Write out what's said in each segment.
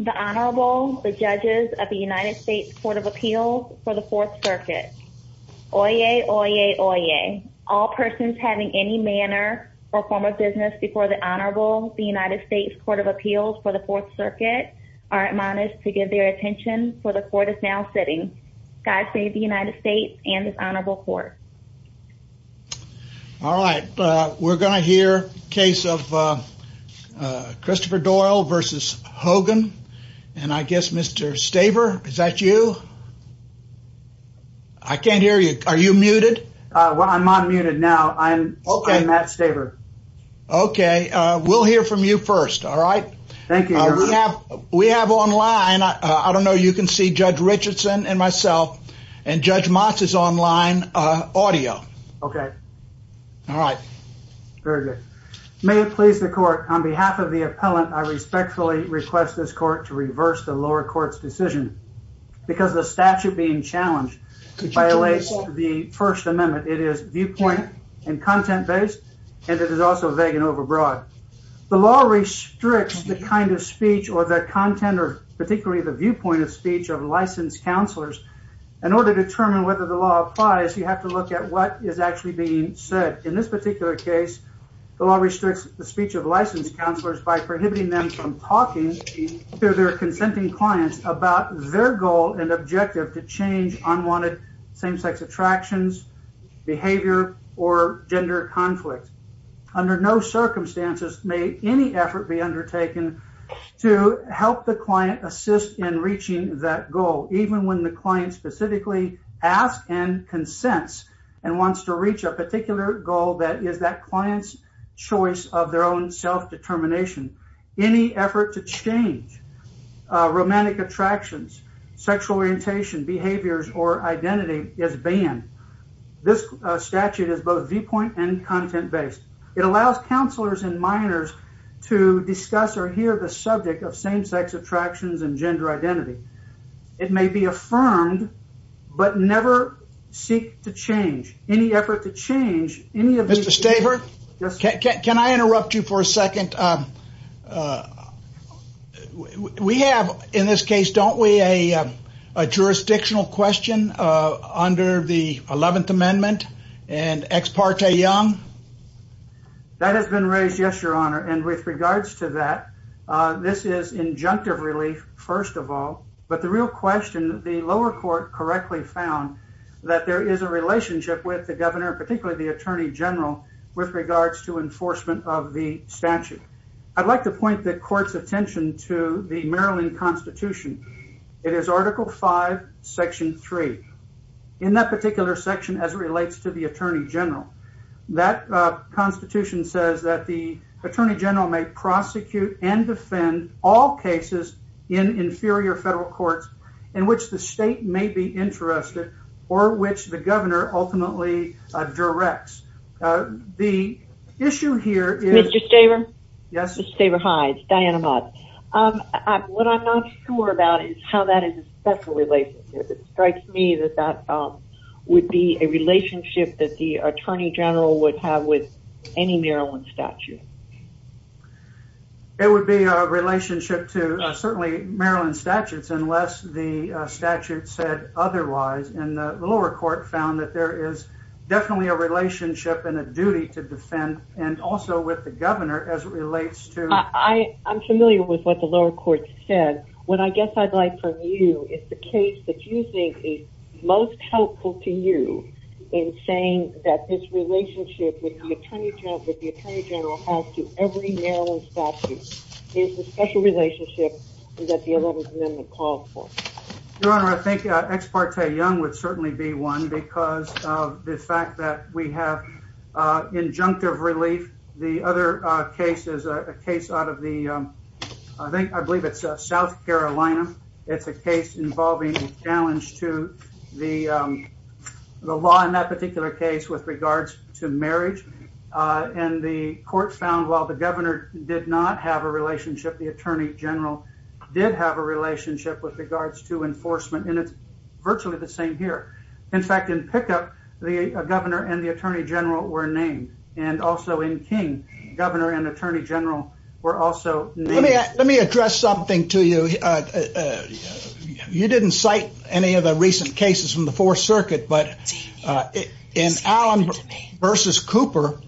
The Honorable, the Judges of the United States Court of Appeals for the Fourth Circuit. Oyez! Oyez! Oyez! All persons having any manner or form of business before the Honorable, the United States Court of Appeals for the Fourth Circuit are admonished to give their attention, for the Court is now sitting. God save the United States and this Honorable Court. All right, we're going to hear a case of Christopher Doyle versus Hogan and I guess Mr. Staver, is that you? I can't hear you. Are you muted? Well, I'm unmuted now. I'm Matt Staver. Okay, we'll hear from you first, all right? Thank you, Your Honor. We have online, I don't know if you can see, Judge Richardson and myself and Judge Motz is online, audio. Okay. All right. Very good. May it please the Court, on behalf of the appellant, I respectfully request this Court to reverse the lower court's decision because the statute being challenged violates the First Amendment. It is viewpoint and content-based and it is also vague and overbroad. The law restricts the kind of speech or the content or particularly the viewpoint of speech of licensed counselors. In order to determine whether the law applies, you have to look at what is actually being said. In this particular case, the law restricts the speech of licensed counselors by prohibiting them from talking to their consenting clients about their goal and objective to change unwanted same-sex attractions, behavior, or gender conflict. Under no circumstances may any effort be undertaken to help the client assist in reaching that goal, even when the client specifically asks and consents and wants to reach a particular goal that is that client's choice of their own self-determination. Any effort to change romantic attractions, sexual orientation, behaviors, or identity is banned. This statute is both viewpoint and content-based. It allows counselors and minors to discuss or hear the subject of same-sex attractions and gender identity. It may be affirmed, but never seek to change. Any effort to change any of these... Mr. Stavart? Yes, sir. Can I interrupt you for a second? We have, in this case, don't we, a jurisdictional question under the 11th Amendment and Ex Parte Young? That has been raised, yes, your honor. With regards to that, this is injunctive relief, first of all, but the real question, the lower court correctly found that there is a relationship with the governor, particularly the Attorney General, with regards to enforcement of the statute. I'd like to point the court's attention to the Maryland Constitution. It is Article V, Section 3. In that particular section, as it relates to the Attorney General, that Constitution says that the Attorney General may prosecute and defend all cases in inferior federal courts in which the state may be interested or which the governor ultimately directs. The issue here is... Mr. Stavart? Yes. Mr. Stavart, hi. It's Diana Mott. What I'm not sure about is how that is a special relationship. It strikes me that that would be a relationship that the Attorney General would have with any Maryland statute. It would be a relationship to, certainly, Maryland statutes, unless the statute said otherwise, and the lower court found that there is definitely a relationship and a duty to defend, and also with the governor, as it relates to... I'm familiar with what the lower court said. What I guess I'd like from you is the case that you think is most helpful to you in saying that this relationship with the Attorney General has to every Maryland statute is the special relationship that the 11th Amendment calls for. Your Honor, I think Ex Parte Young would certainly be one because of the fact that we have injunctive relief. The other case is a case out of the... I believe it's South Carolina. It's a case involving a challenge to the law in that particular case with regards to marriage, and the court found while the governor did not have a relationship, the Attorney General did have a relationship with regards to enforcement, and it's virtually the same here. In fact, in pickup, the governor and the Attorney General were named, and also in King, governor and Attorney General were also named. Let me address something to you. You didn't cite any of the recent cases from the Fourth Circuit, but in Allen v. Cooper,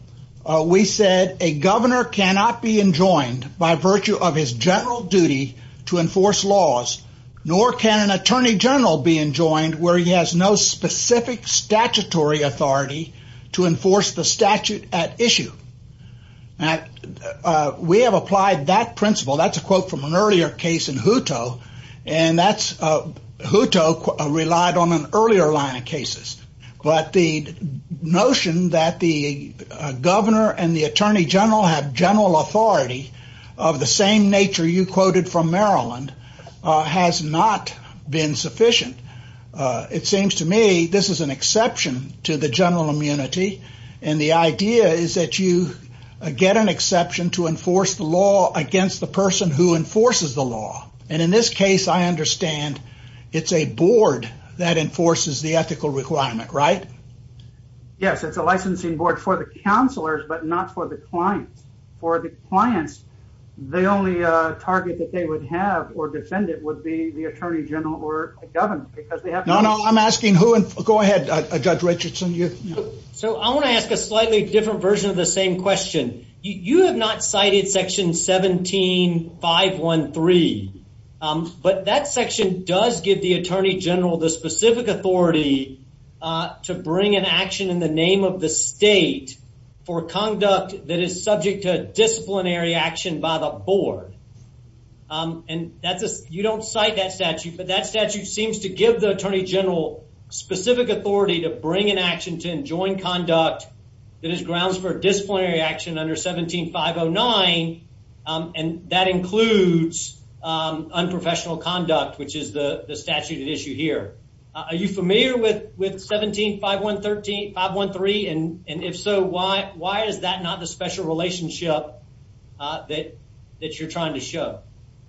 we said a governor cannot be enjoined by virtue of his general duty to enforce laws, nor can an Attorney General be enjoined where he has no specific statutory authority to enforce the statute at issue. Now, we have applied that principle. That's a quote from an earlier case in Hutto, and Hutto relied on an earlier line of cases, but the notion that the governor and the Attorney General have general authority of the same nature you quoted from Maryland has not been sufficient. It seems to me this is an exception to the general immunity, and the idea is that you get an exception to enforce the law against the person who enforces the law, and in this case I understand it's a board that enforces the ethical requirement, right? Yes, it's a licensing board for the counselors, but not for the clients. For the clients, the only target that they would have or defend it would be the Attorney General or a governor. No, no, I'm asking who, and go ahead, Judge Richardson. So I want to ask a slightly different version of the same question. You have not cited section 17-513, but that section does give the Attorney General the specific authority to bring an action in the name of the state for conduct that is subject to disciplinary action by the board, and you don't cite that statute. But that statute seems to give the Attorney General specific authority to bring an action to enjoin conduct that is grounds for disciplinary action under 17-509, and that includes unprofessional conduct, which is the statute at issue here. Are you familiar with 17-513, and if so, why is that not the special relationship that you're trying to show?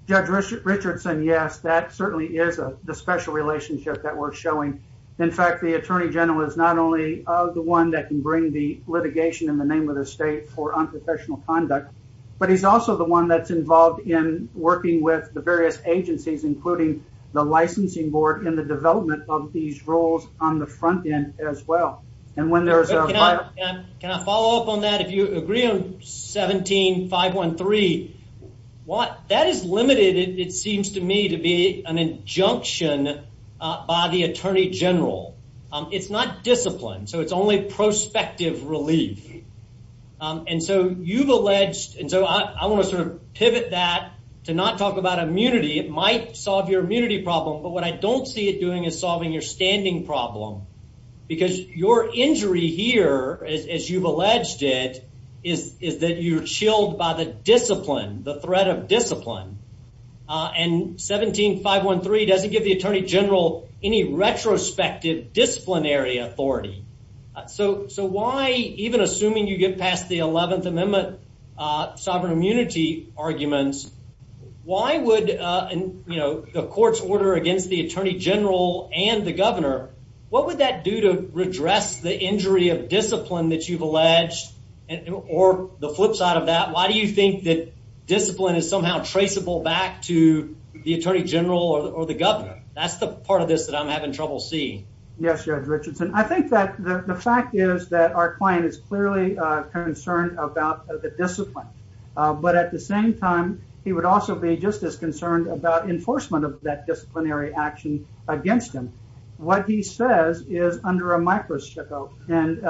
Judge Richardson, yes, that certainly is the special relationship that we're showing. In fact, the Attorney General is not only the one that can bring the litigation in the name of the state for unprofessional conduct, but he's also the one that's involved in working with the various agencies, including the licensing board, in the development of these rules on the front end as well. And when there's a... Can I follow up on that? If you agree on 17-513, that is limited, it seems to me, to be an injunction by the Attorney General. It's not discipline, so it's only prospective relief. And so you've alleged, and so I want to sort of pivot that to not talk about immunity. It might solve your immunity problem, but what I don't see it doing is solving your as you've alleged it, is that you're chilled by the discipline, the threat of discipline. And 17-513 doesn't give the Attorney General any retrospective disciplinary authority. So why, even assuming you get past the 11th Amendment sovereign immunity arguments, why would the court's order against the Attorney General and the governor, what would that do to redress the injury of discipline that you've alleged? Or the flip side of that, why do you think that discipline is somehow traceable back to the Attorney General or the governor? That's the part of this that I'm having trouble seeing. Yes, Judge Richardson. I think that the fact is that our client is clearly concerned about the discipline. But at the same time, he would also be just as concerned about enforcement of that disciplinary action against him. What he says is under a micro-shickle.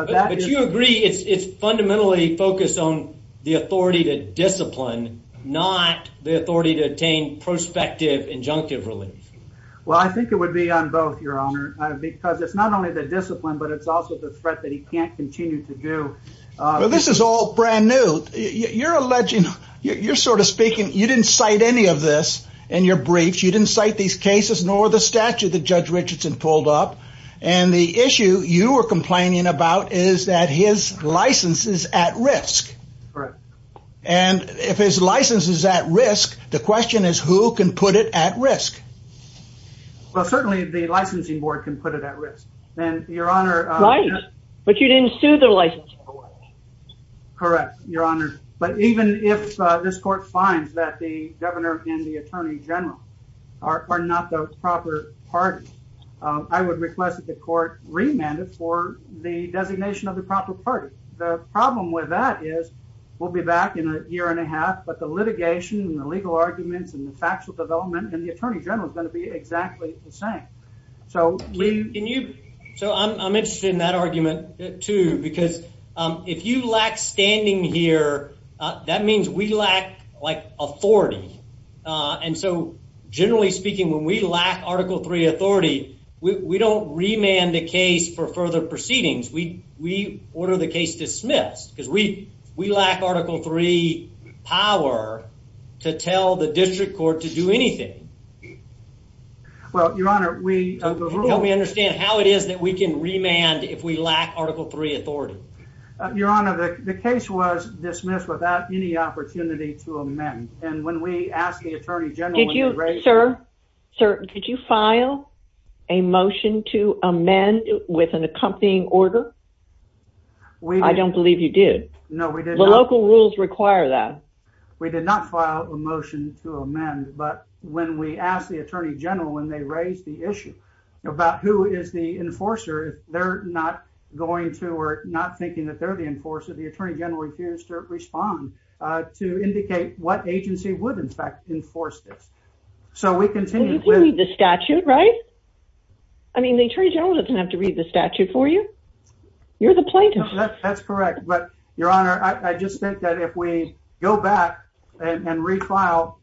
But you agree it's fundamentally focused on the authority to discipline, not the authority to attain prospective injunctive relief? Well, I think it would be on both, Your Honor, because it's not only the discipline, but it's also the threat that he can't continue to do. This is all brand new. You're alleging, you're sort of speaking, you didn't cite any of this in your briefs. You didn't cite these cases, nor the statute that Judge Richardson pulled up. And the issue you were complaining about is that his license is at risk. And if his license is at risk, the question is who can put it at risk? Well, certainly the licensing board can put it at risk. And Your Honor. Right. But you didn't sue the licensing board. Correct, Your Honor. But even if this court finds that the governor and the attorney general are not the proper party, I would request that the court remand it for the designation of the proper party. The problem with that is, we'll be back in a year and a half, but the litigation and the legal arguments and the factual development and the attorney general is going to be exactly the same. So I'm interested in that argument too, because if you lack standing here, that means we lack like authority. And so generally speaking, when we lack Article III authority, we don't remand the case for further proceedings. We order the case dismissed because we lack Article III power to tell the district court to do anything. Well, Your Honor, we... Help me understand how it is that we can remand if we lack Article III authority. Your Honor, the case was dismissed without any opportunity to amend. And when we asked the attorney general... Did you, sir, sir, did you file a motion to amend with an accompanying order? I don't believe you did. No, we did not. The local rules require that. We did not file a motion to amend, but when we asked the attorney general, when they raised the issue about who is the enforcer, they're not going to or not thinking that they're the enforcer. The attorney general refused to respond to indicate what agency would in fact enforce So we continue with... Well, you can read the statute, right? I mean, the attorney general doesn't have to read the statute for you. You're the plaintiff. That's correct. But, Your Honor, I just think that if we go back and refile,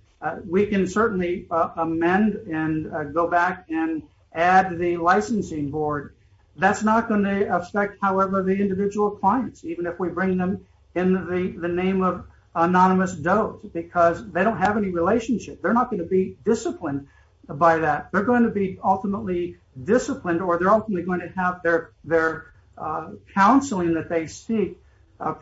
we can certainly amend and go back and add the licensing board. That's not going to affect, however, the individual clients, even if we bring them in the name of anonymous dope, because they don't have any relationship. They're not going to be disciplined by that. They're going to be ultimately disciplined, or they're ultimately going to have their counseling that they seek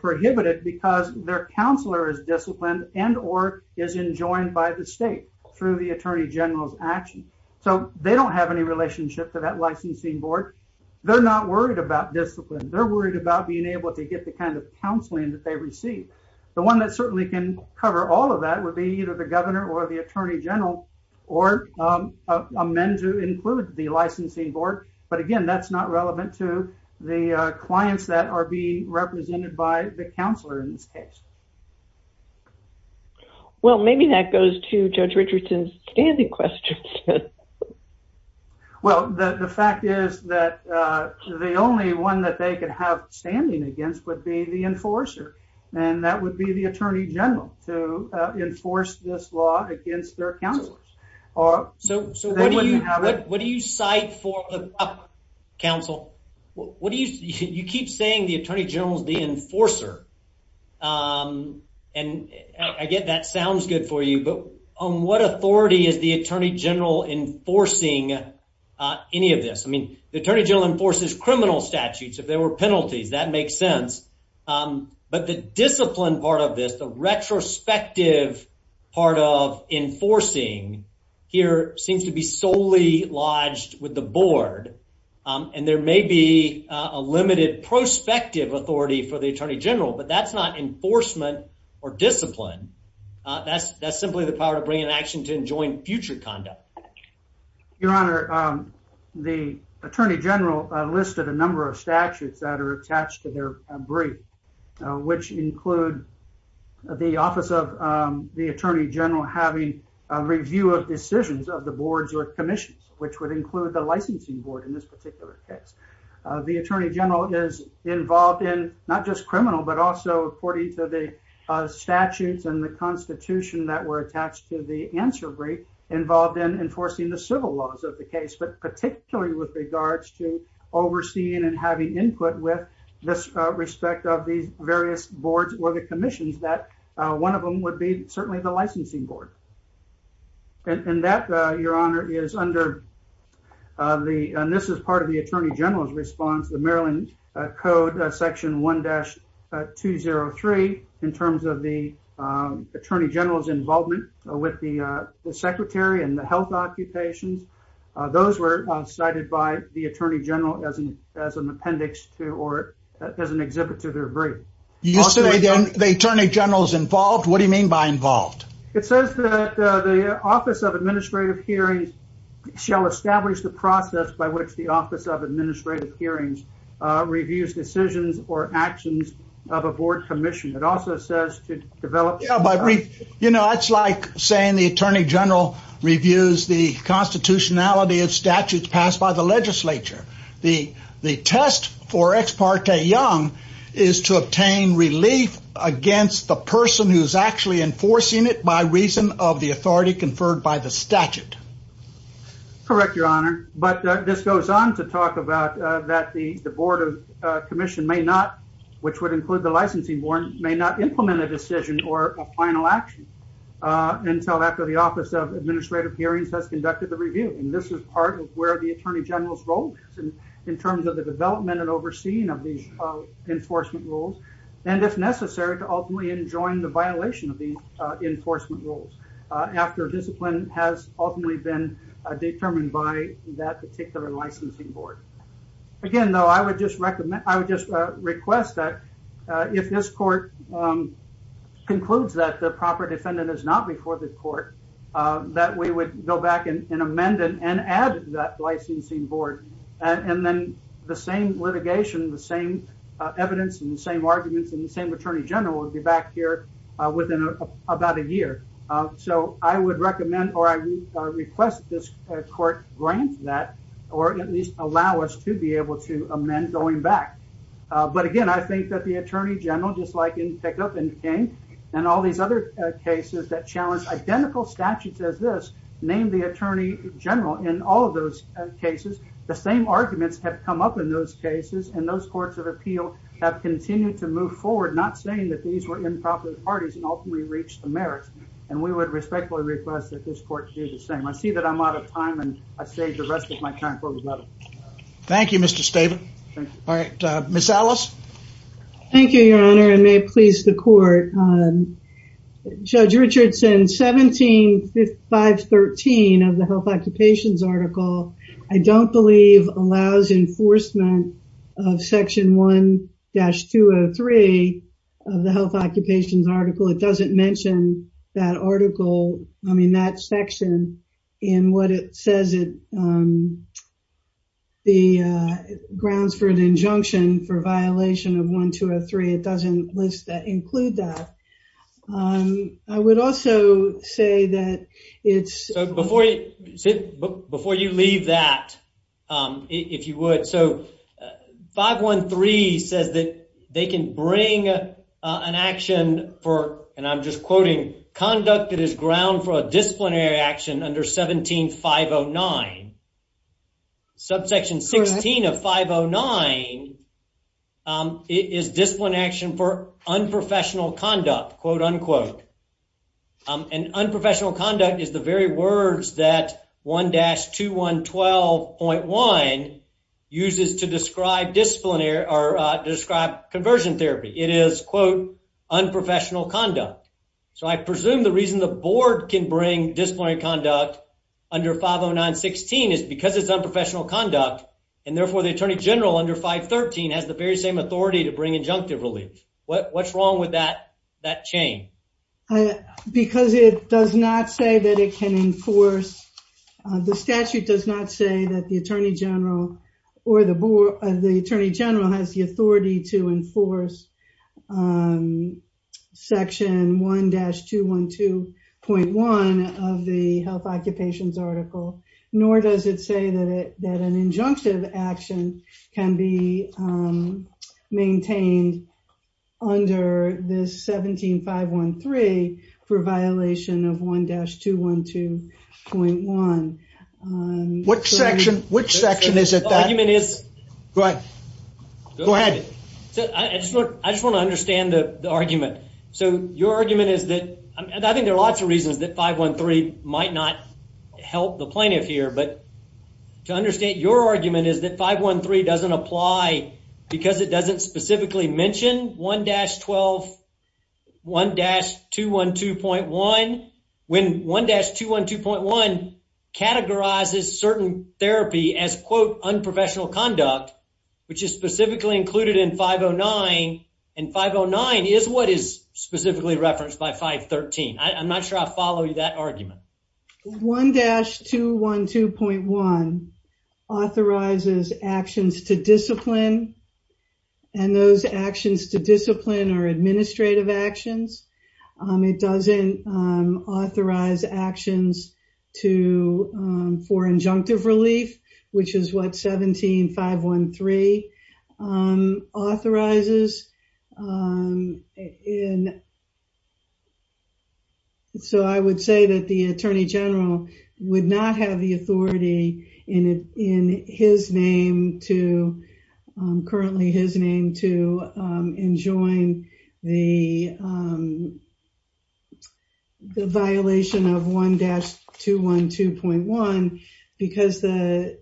prohibited because their counselor is disciplined and or is enjoined by the state through the attorney general's action. So they don't have any relationship to that licensing board. They're not worried about discipline. They're worried about being able to get the kind of counseling that they receive. The one that certainly can cover all of that would be either the governor or the attorney general or amend to include the licensing board. But again, that's not relevant to the clients that are being represented by the counselor in this case. Well, maybe that goes to Judge Richardson's standing questions. Well, the fact is that the only one that they could have standing against would be the enforcer. And that would be the attorney general to enforce this law against their counselor. So what do you what do you cite for the counsel? What do you keep saying? The attorney general's the enforcer. And I get that sounds good for you, but on what authority is the attorney general enforcing any of this? I mean, the attorney general enforces criminal statutes if there were penalties. That makes sense. But the discipline part of this, the retrospective part of enforcing here seems to be solely lodged with the board, and there may be a limited prospective authority for the attorney general. But that's not enforcement or discipline. That's that's simply the power to bring an action to enjoin future conduct. Your Honor, the attorney general listed a number of statutes that are attached to their brief, which include the office of the attorney general having a review of decisions of the boards or commissions, which would include the licensing board in this particular case. The attorney general is involved in not just criminal, but also according to the statutes and the constitution that were attached to the answer brief involved in enforcing the civil laws of the case, but particularly with regards to overseeing and having input with this respect of these various boards or the commissions that one of them would be certainly the licensing board. And that, Your Honor, is under the and this is part of the attorney general's response, the Maryland Code Section 1-203 in terms of the attorney general's responsibility to review decisions or actions of a board commission, it says that the secretary and the health occupations, those were cited by the attorney general as an as an appendix to or as an exhibit to their brief. You say the attorney general's involved? What do you mean by involved? It says that the office of administrative hearings shall establish the process by which the office of administration of the attorney general reviews the constitutionality of statutes passed by the legislature. The test for Ex parte Young is to obtain relief against the person who is actually enforcing it by reason of the authority conferred by the statute. Correct, Your Honor, but this goes on to talk about that the board of commission may not, which would include the licensing board, may not implement a decision or a final action until after the office of administrative hearings has conducted the review. And this is part of where the attorney general's role is in terms of the development and overseeing of these enforcement rules, and if necessary, to ultimately enjoin the violation of the enforcement rules after discipline has ultimately been determined by that particular licensing board. Again, though, I would just recommend, I would just request that if this court concludes that the proper defendant is not before the court, that we would go back and amend it and add that licensing board. And then the same litigation, the same evidence and the same arguments and the same attorney general will be back here within about a month or so for us to be able to amend going back. But again, I think that the attorney general, just like in Pickup and King and all these other cases that challenge identical statutes as this, name the attorney general in all of those cases, the same arguments have come up in those cases and those courts of appeal have continued to move forward, not saying that these were improper parties and ultimately reached the merits. And we would respectfully request that this court do the same. I see that I'm out of time and I saved the rest of my time for rebuttal. Thank you, Mr. Staben. All right, Ms. Ellis. Thank you, Your Honor, and may it please the court. Judge Richardson, 17-513 of the health occupations article, I don't believe allows enforcement of section 1-203 of the health occupations article. It doesn't mention that article, I mean, that section in what it says, the grounds for an injunction for violation of 1-203. It doesn't list that, include that. I would also say that it's... Before you leave that, if you would. So, 513 says that they can bring an action for, and I'm just quoting, conduct that is ground for a disciplinary action under 17-509. Subsection 16 of 509 is discipline action for unprofessional conduct, quote unquote. And unprofessional conduct is the very words that 1-2112.1 uses to describe disciplinary or describe conversion therapy. It is, quote, unprofessional conduct. So, I presume the reason the board can bring disciplinary conduct under 509-16 is because it's unprofessional conduct. And therefore, the attorney general under 513 has the very same authority to bring injunctive relief. What's wrong with that chain? Because it does not say that it can enforce, the statute does not say that the attorney general or the attorney general has the authority to enforce section 1-212.1 of the health occupations article. Nor does it say that an injunctive action can be maintained under this 17-513 for violation of 1-212.1. What section, which section is it that... The argument is... Go ahead. Go ahead. I just want to understand the argument. So, your argument is that, and I think there are lots of reasons that 513 might not help the plaintiff here. But to understand your argument is that 513 doesn't apply because it doesn't specifically mention 1-212.1. When 1-212.1 categorizes certain therapy as, quote, unprofessional conduct, which is specifically included in 509, and 509 is what is specifically referenced by 513. I'm not sure I follow that argument. 1-212.1 authorizes actions to discipline. And those actions to discipline are administrative actions. It doesn't authorize actions for injunctive relief, which is what 17-513 authorizes. So, I would say that the Attorney General would not have the authority in his name to, currently his name, to enjoin the violation of 1-212.1 because the,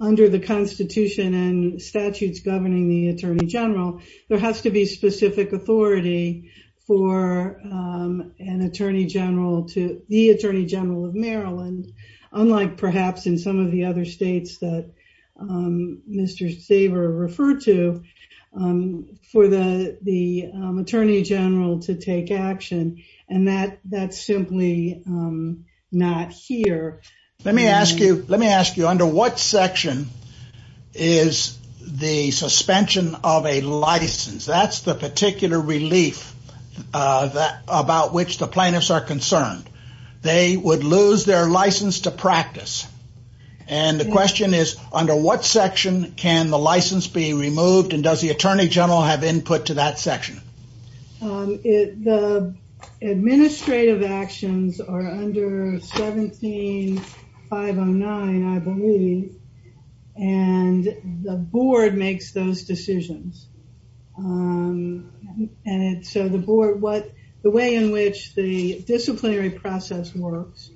under the Constitution, and statutes governing the Attorney General, there has to be specific authority for an Attorney General to, the Attorney General of Maryland, unlike perhaps in some of the other states that Mr. Saver referred to, for the Attorney General to take action. And that's simply not here. Let me ask you, let me ask you, under what section is the suspension of a license? That's the particular relief about which the plaintiffs are concerned. They would lose their license to practice. And the question is, under what section can the license be removed? And does the Attorney General have input to that section? The administrative actions are under 17-509, I believe, and the board makes those decisions. And so the board, what, the way in which the disciplinary process works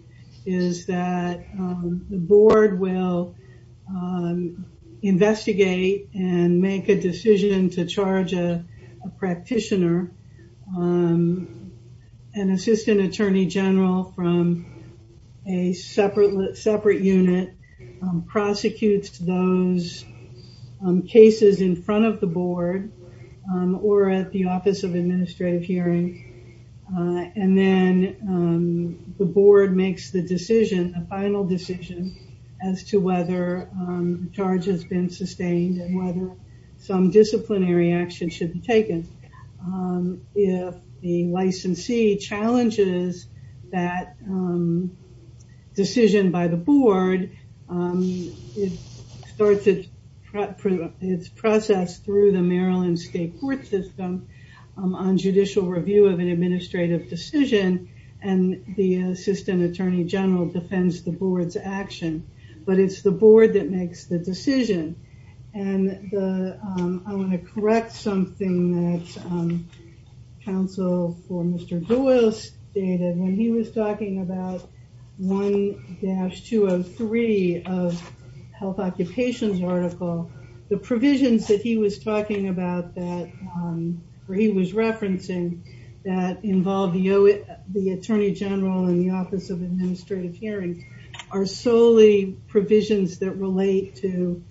is that the board will investigate and make a decision to charge a practitioner. An assistant Attorney General from a separate unit prosecutes those cases in front of the board, or at the Office of Administrative Hearing, and then the board makes the decision, a final decision, as to whether the charge has been sustained and whether some disciplinary action should be taken. If the licensee challenges that decision by the board, it starts its process through the Maryland State Court system on judicial review of an administrative decision, and the assistant Attorney General defends the board's action. But it's the board that makes the decision. And I want to correct something that counsel for Mr. Doyle stated when he was talking about 1-203 of health occupations article, the provisions that he was talking about that, or he was referencing that involved the Attorney General and the Office of Administrative Hearing are solely provisions that relate to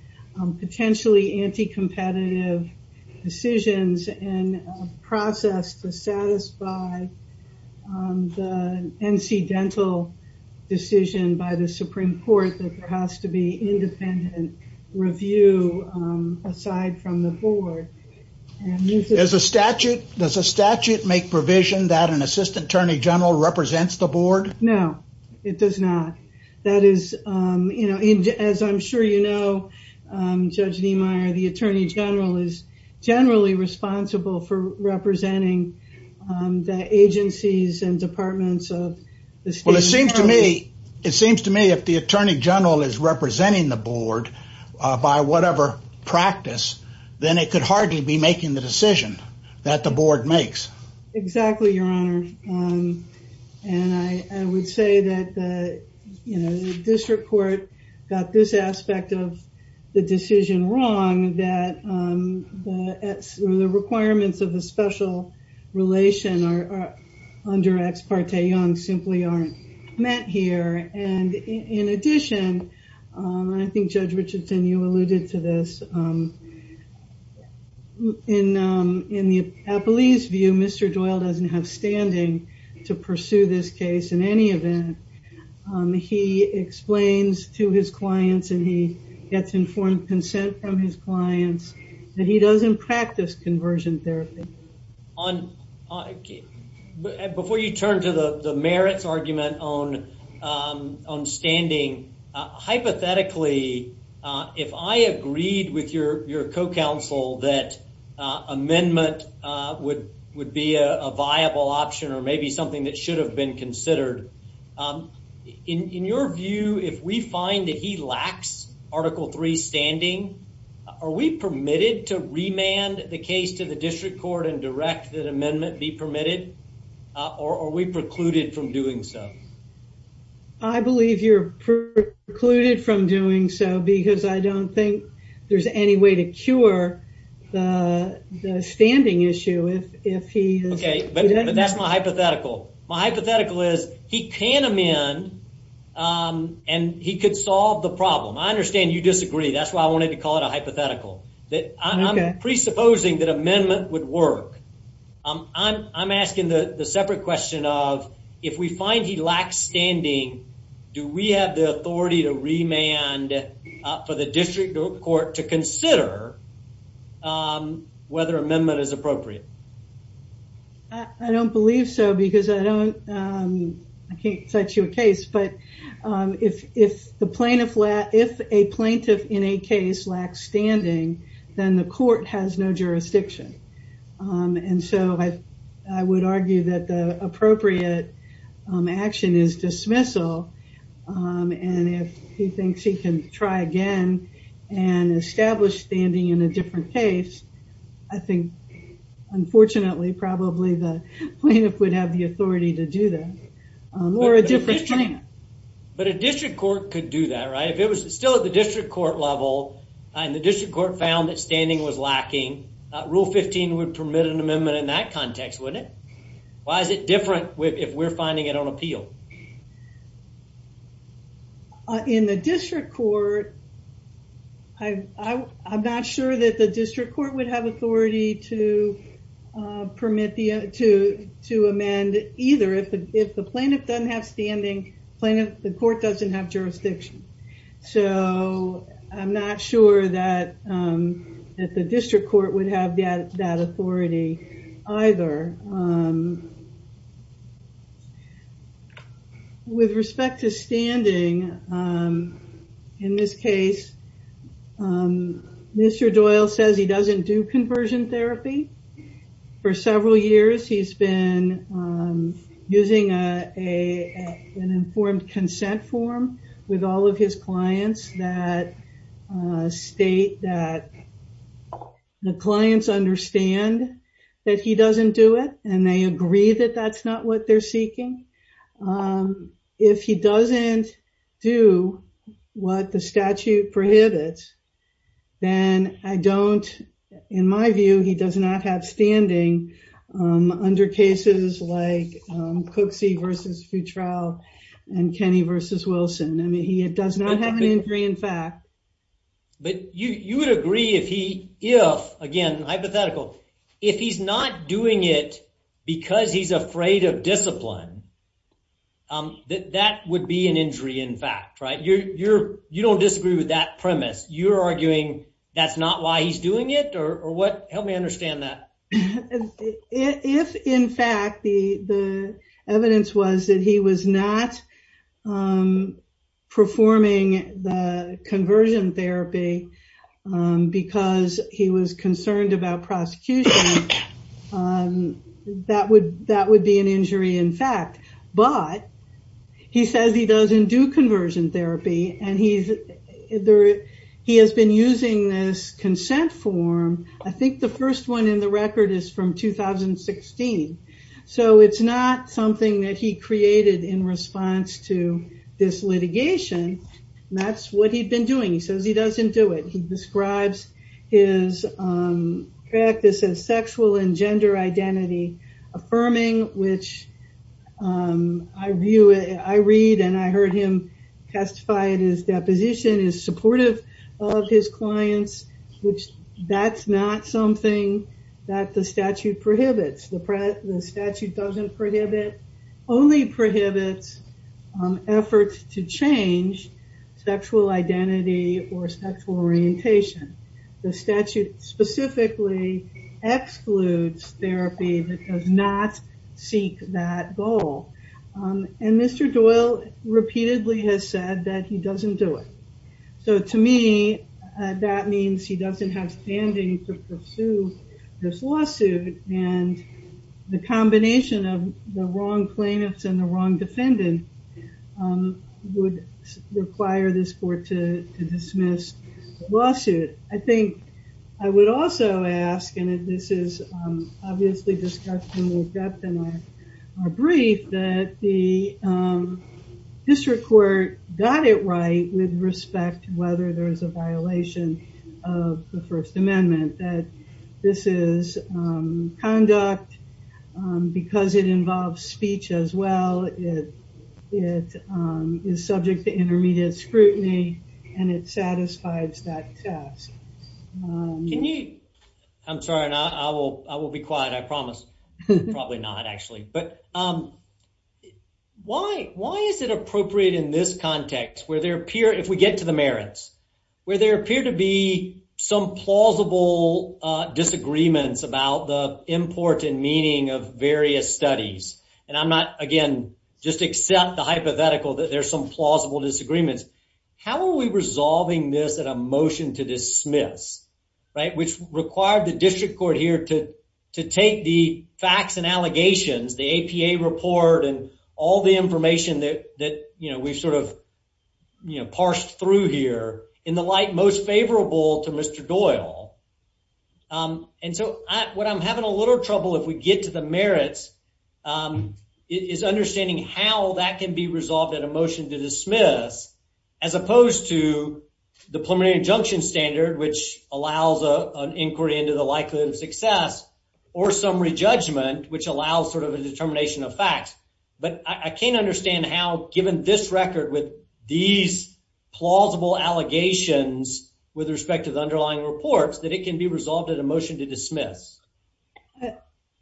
potentially anti-competitive decisions and process to satisfy the incidental decision by the Supreme Court that there has to be independent review aside from the board. As a statute, does a statute make provision that an assistant Attorney General represents the board? No, it does not. That is, you know, as I'm sure you know, Judge Niemeyer, the Attorney General is generally responsible for representing the agencies and departments of the state. Well, it seems to me, it seems to me if the Attorney General is representing the board by whatever practice, then it could hardly be making the decision that the board makes. Exactly, Your Honor. And I would say that, you know, the district court got this aspect of the decision wrong, that the requirements of the special relation are under ex parte young simply aren't meant here. And in addition, I think Judge Richardson, you alluded to this. In the police view, Mr. Doyle doesn't have standing to pursue this case. In any event, he explains to his clients and he gets informed consent from his clients that he doesn't practice conversion therapy. Before you turn to the merits argument on standing, hypothetically, if I agreed with your co-counsel that amendment would be a viable option or maybe something that should have been considered, in your view, if we find that he lacks Article 3 standing, are we permitted to remand the case to the district court and direct that amendment be permitted or are we precluded from doing so? I believe you're precluded from doing so because I don't think there's any way to cure the standing issue if he is. Okay, but that's my hypothetical. My hypothetical is he can amend and he could solve the problem. I understand you disagree. That's why I wanted to call it a hypothetical. I'm presupposing that amendment would work. I'm asking the separate question of if we find he lacks standing, do we have the authority to remand for the district court to consider whether amendment is appropriate? I don't believe so because I can't set you a case. If a plaintiff in a case lacks standing, then the court has no jurisdiction. I would argue that the appropriate action is dismissal. If he thinks he can try again and establish standing in a different case, I think, unfortunately, probably the plaintiff would have the authority to do that or a different plan. But a district court could do that, right? If it was still at the district court level and the district court found that standing was lacking, Rule 15 would permit an amendment in that context, wouldn't it? Why is it different if we're finding it on appeal? I'm not sure that the district court would have authority to amend either. If the plaintiff doesn't have standing, the court doesn't have jurisdiction. I'm not sure that the district court would have that authority either. With respect to standing, in this case, Mr. Doyle says he doesn't do conversion therapy. For several years, he's been using an informed consent form with all of his clients. They understand that he doesn't do it and they agree that that's not what they're seeking. If he doesn't do what the statute prohibits, then in my view, he does not have standing under cases like Cooksey v. Futrell and Kenny v. Wilson. I mean, he does not have an injury in fact. But you would agree if he, if, again hypothetical, if he's not doing it because he's afraid of discipline, that that would be an injury in fact, right? You don't disagree with that premise. You're arguing that's not why he's doing it or what? Help me understand that. If in fact the conversion therapy because he was concerned about prosecution, that would be an injury in fact. But he says he doesn't do conversion therapy and he has been using this consent form. I think the first one in the record is from 2016. It's not something that he created in response to this litigation. That's what he'd been doing. He says he doesn't do it. He describes his practice as sexual and gender identity affirming, which I read and I heard him testify in his deposition is supportive of his clients, which that's not something that the statute prohibits. The statute doesn't prohibit, only prohibits efforts to change sexual identity or sexual orientation. The statute specifically excludes therapy that does not seek that goal. And Mr. Doyle repeatedly has said that he doesn't do it. So to me, that means he doesn't have standing to the combination of the wrong plaintiffs and the wrong defendant would require this court to dismiss the lawsuit. I think I would also ask, and this is obviously discussed in more depth in our brief, that the district court got it right with respect to whether there is a violation of the first amendment, that this is conduct because it involves speech as well. It is subject to intermediate scrutiny and it satisfies that task. Can you, I'm sorry, I will be quiet. I promise. Probably not actually. But why is it appropriate in this context where there appear, if we get to the merits, where there appear to be some plausible disagreements about the important meaning of various studies? And I'm not, again, just accept the hypothetical that there's some plausible disagreements. How are we resolving this at a motion to dismiss, which required the district court here to take the facts and allegations, the APA report and all the information that we've sort of parsed through here in the light most favorable to Mr. Doyle? And so what I'm having a little trouble, if we get to the merits, is understanding how that can be resolved at a motion to dismiss, as opposed to the preliminary injunction standard, which allows an inquiry into the likelihood of success, or summary judgment, which allows sort of a determination of facts. But I can't understand how, given this record with these plausible allegations with respect to the underlying reports, that it can be resolved at a motion to dismiss.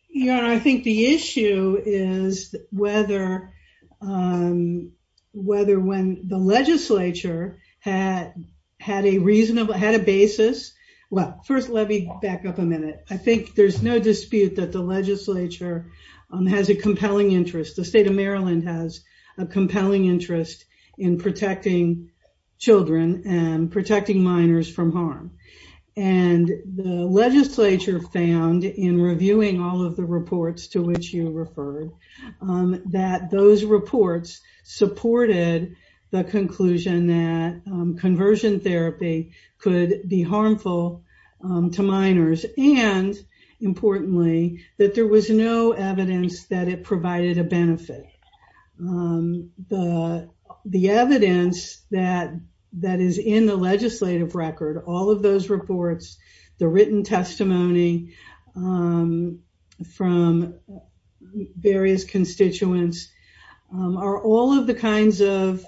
Your Honor, I think the issue is whether when the legislature had a reasonable, had a basis. Well, first, let me back up a minute. I think there's no reason why the legislature has a compelling interest. The state of Maryland has a compelling interest in protecting children and protecting minors from harm. And the legislature found, in reviewing all of the reports to which you referred, that those reports supported the evidence that it provided a benefit. The evidence that is in the legislative record, all of those reports, the written testimony from various constituents, are all of the kinds of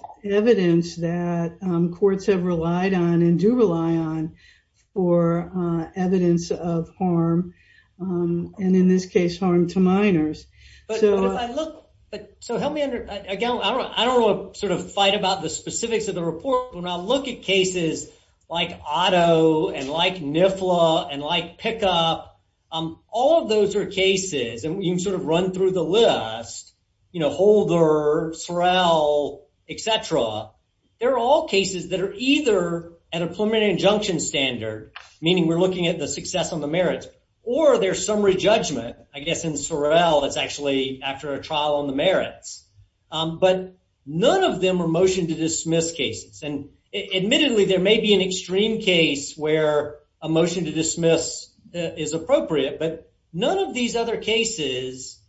cases that are either at a preliminary injunction standard, meaning we're looking at the success on Sorrell, that's actually after a trial on the merits. But none of them are motion to dismiss cases. And admittedly, there may be an extreme case where a motion to dismiss is appropriate, but none of these other cases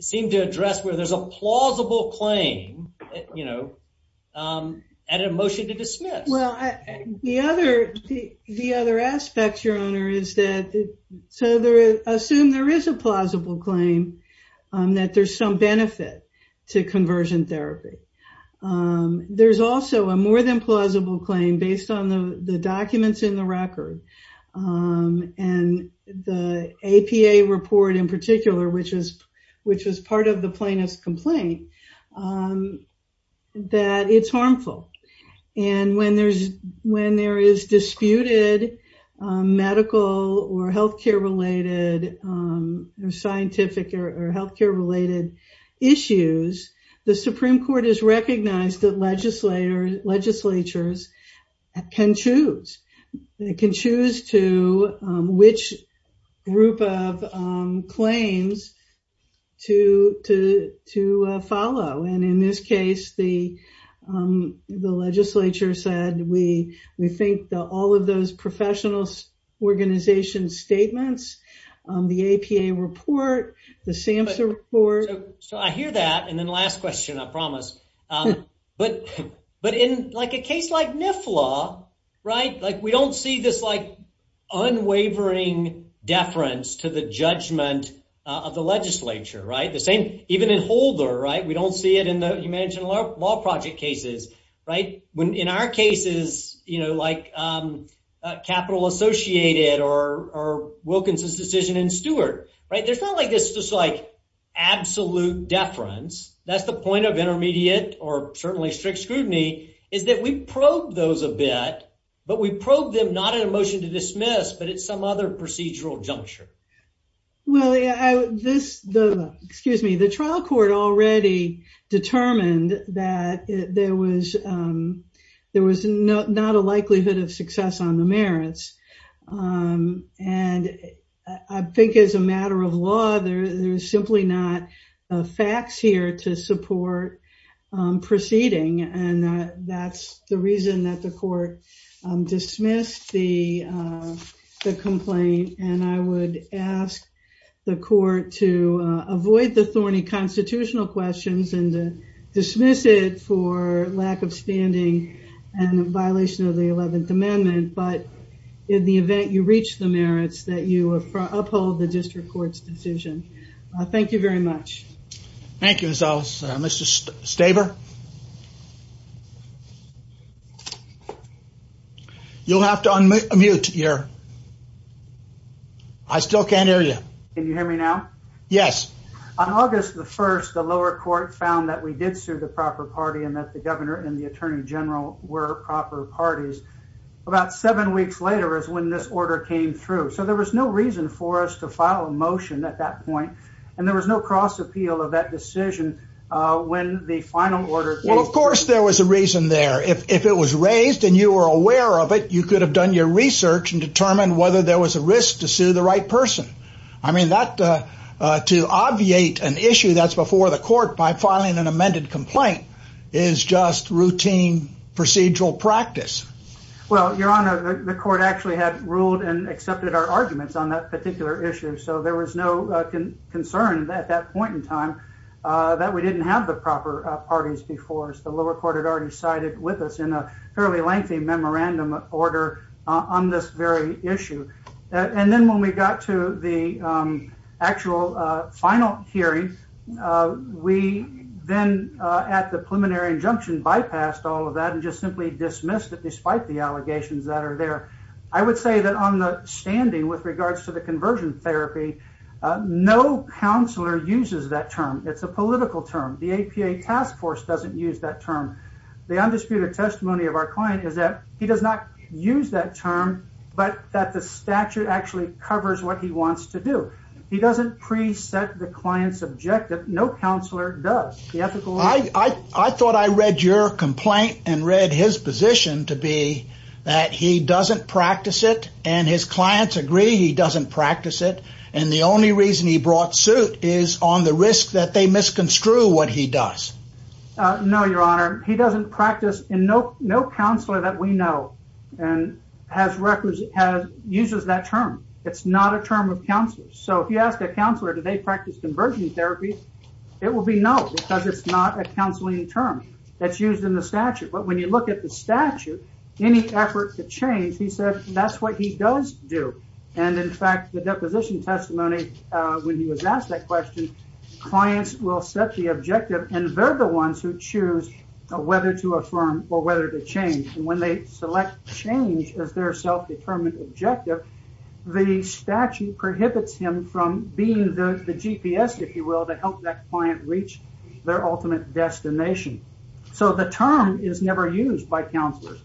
seem to address where there's a plausible claim at a motion to dismiss. There's also a more than plausible claim based on the documents in the record and the APA report in particular, which was part of the plaintiff's complaint, that it's harmful. And when there is disputed medical or healthcare-related issues, the Supreme Court has recognized that legislatures can choose to which group of claims to follow. And in this case, the legislature said, we think that all of those professional organization statements, the APA report, the SAMHSA report... So I hear that. And then last question, I promise. But in a case like NIFLA, like we don't see this like unwavering deference to the judgment of the legislature. Even in Holder, we don't see it in the... You mentioned law project cases. In our cases, Capital Associated or Wilkinson's decision in Stewart, there's not like this just like absolute deference. That's the point of intermediate or certainly strict scrutiny, is that we probe those a bit, but we probe them not in a motion to dismiss, but it's some other procedural juncture. Well, the trial court already determined that there was not a likelihood of success on the merits. And I think as a matter of law, there's simply not facts here to support proceeding. And that's the reason that the court dismissed the complaint. And I would ask the court to avoid the thorny constitutional questions and to dismiss it for lack of standing and violation of the 11th Amendment. But in the Thank you very much. Thank you, Miss Ellis. Mr. Staber? You'll have to unmute your... I still can't hear you. Can you hear me now? Yes. On August the 1st, the lower court found that we did sue the proper party and that the governor and the attorney general were proper parties. About seven weeks later is when this order came through. So there was no reason for us to file a motion at that point. And there was no cross appeal of that decision when the final order... Well, of course, there was a reason there. If it was raised and you were aware of it, you could have done your research and determined whether there was a risk to sue the right person. I mean, to obviate an issue that's before the court by filing an amended complaint is just routine procedural practice. Well, Your Honor, the court actually had ruled and accepted our arguments on that particular issue. So there was no concern at that point in time that we didn't have the proper parties before us. The lower court had already sided with us in a fairly lengthy memorandum order on this very issue. And then when we got to the actual final hearing, we then at the preliminary injunction bypassed all of that and just simply dismissed it despite the allegations that are there. I would say that on the standing with regards to the conversion therapy, no counselor uses that term. It's a political term. The APA task force doesn't use that term. The undisputed testimony of our client is that he does not use that term, but that the statute actually covers what he wants to do. He doesn't preset the client's objective. No counselor does. I thought I read your complaint and read his position to be that he doesn't practice it and his clients agree he doesn't practice it. And the only reason he brought suit is on the risk that they misconstrue what he does. No, Your Honor, he doesn't practice and no, no counselor that we know and has records has uses that term. It's not a term of counselors. So if you ask a counselor, do they practice conversion therapy? It will be no, because it's not a counseling term that's used in the statute. But when you look at the statute, any effort to change, he said, that's what he does do. And in fact, the deposition testimony, when he was asked that question, clients will set the objective and they're the ones who choose whether to affirm or whether to change. And when they select change as their self-determined objective, the statute prohibits him from being the GPS, if you will, to help that client reach their ultimate destination. So the term is never used by counselors.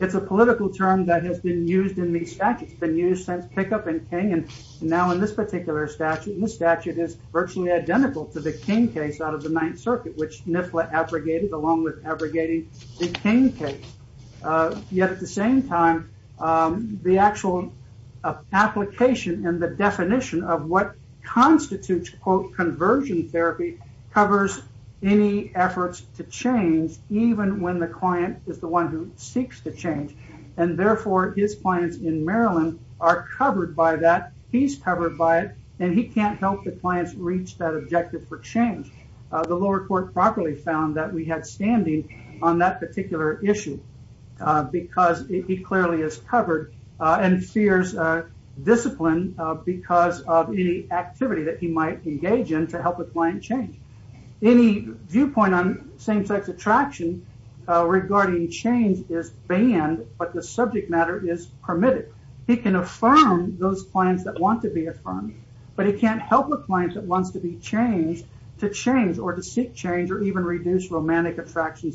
It's a political term that has been used in these statutes. It's been used since Kickup and King and now in this particular statute. And this statute is virtually identical to the King case out of the Ninth Circuit, which NIFLA abrogated along with abrogating the King case. Yet at the same time, the actual application and the definition of what constitutes, quote, conversion therapy, covers any efforts to change, even when the client is the one who seeks to change. And therefore, his clients in Maryland are covered by that. He's covered by it. And he can't help the clients reach that objective for change. The lower court properly found that we had standing on that particular issue because he clearly is covered and fears discipline because of any activity that he might engage in to help a client change. Any viewpoint on same-sex attraction regarding change is banned, but the subject matter is permitted. He can affirm those clients that want to be affirmed, but he can't help a client that wants to be changed to change or to seek attractions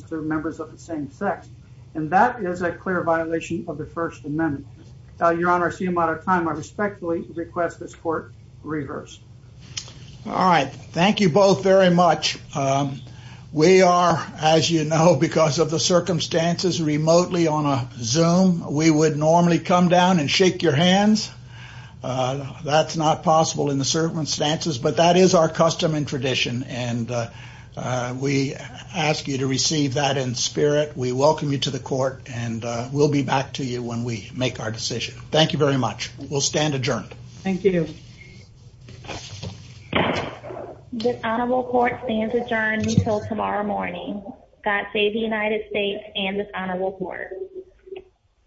to members of the same sex. And that is a clear violation of the First Amendment. Your Honor, I see I'm out of time. I respectfully request this court reverse. All right. Thank you both very much. We are, as you know, because of the circumstances, remotely on a Zoom, we would normally come down and shake your hands. That's not possible in the circumstances, but that is our custom and tradition. And we ask you to receive that in spirit. We welcome you to the court and we'll be back to you when we make our decision. Thank you very much. We'll stand adjourned. Thank you. This honorable court stands adjourned until tomorrow morning. God save the United States and this honorable court.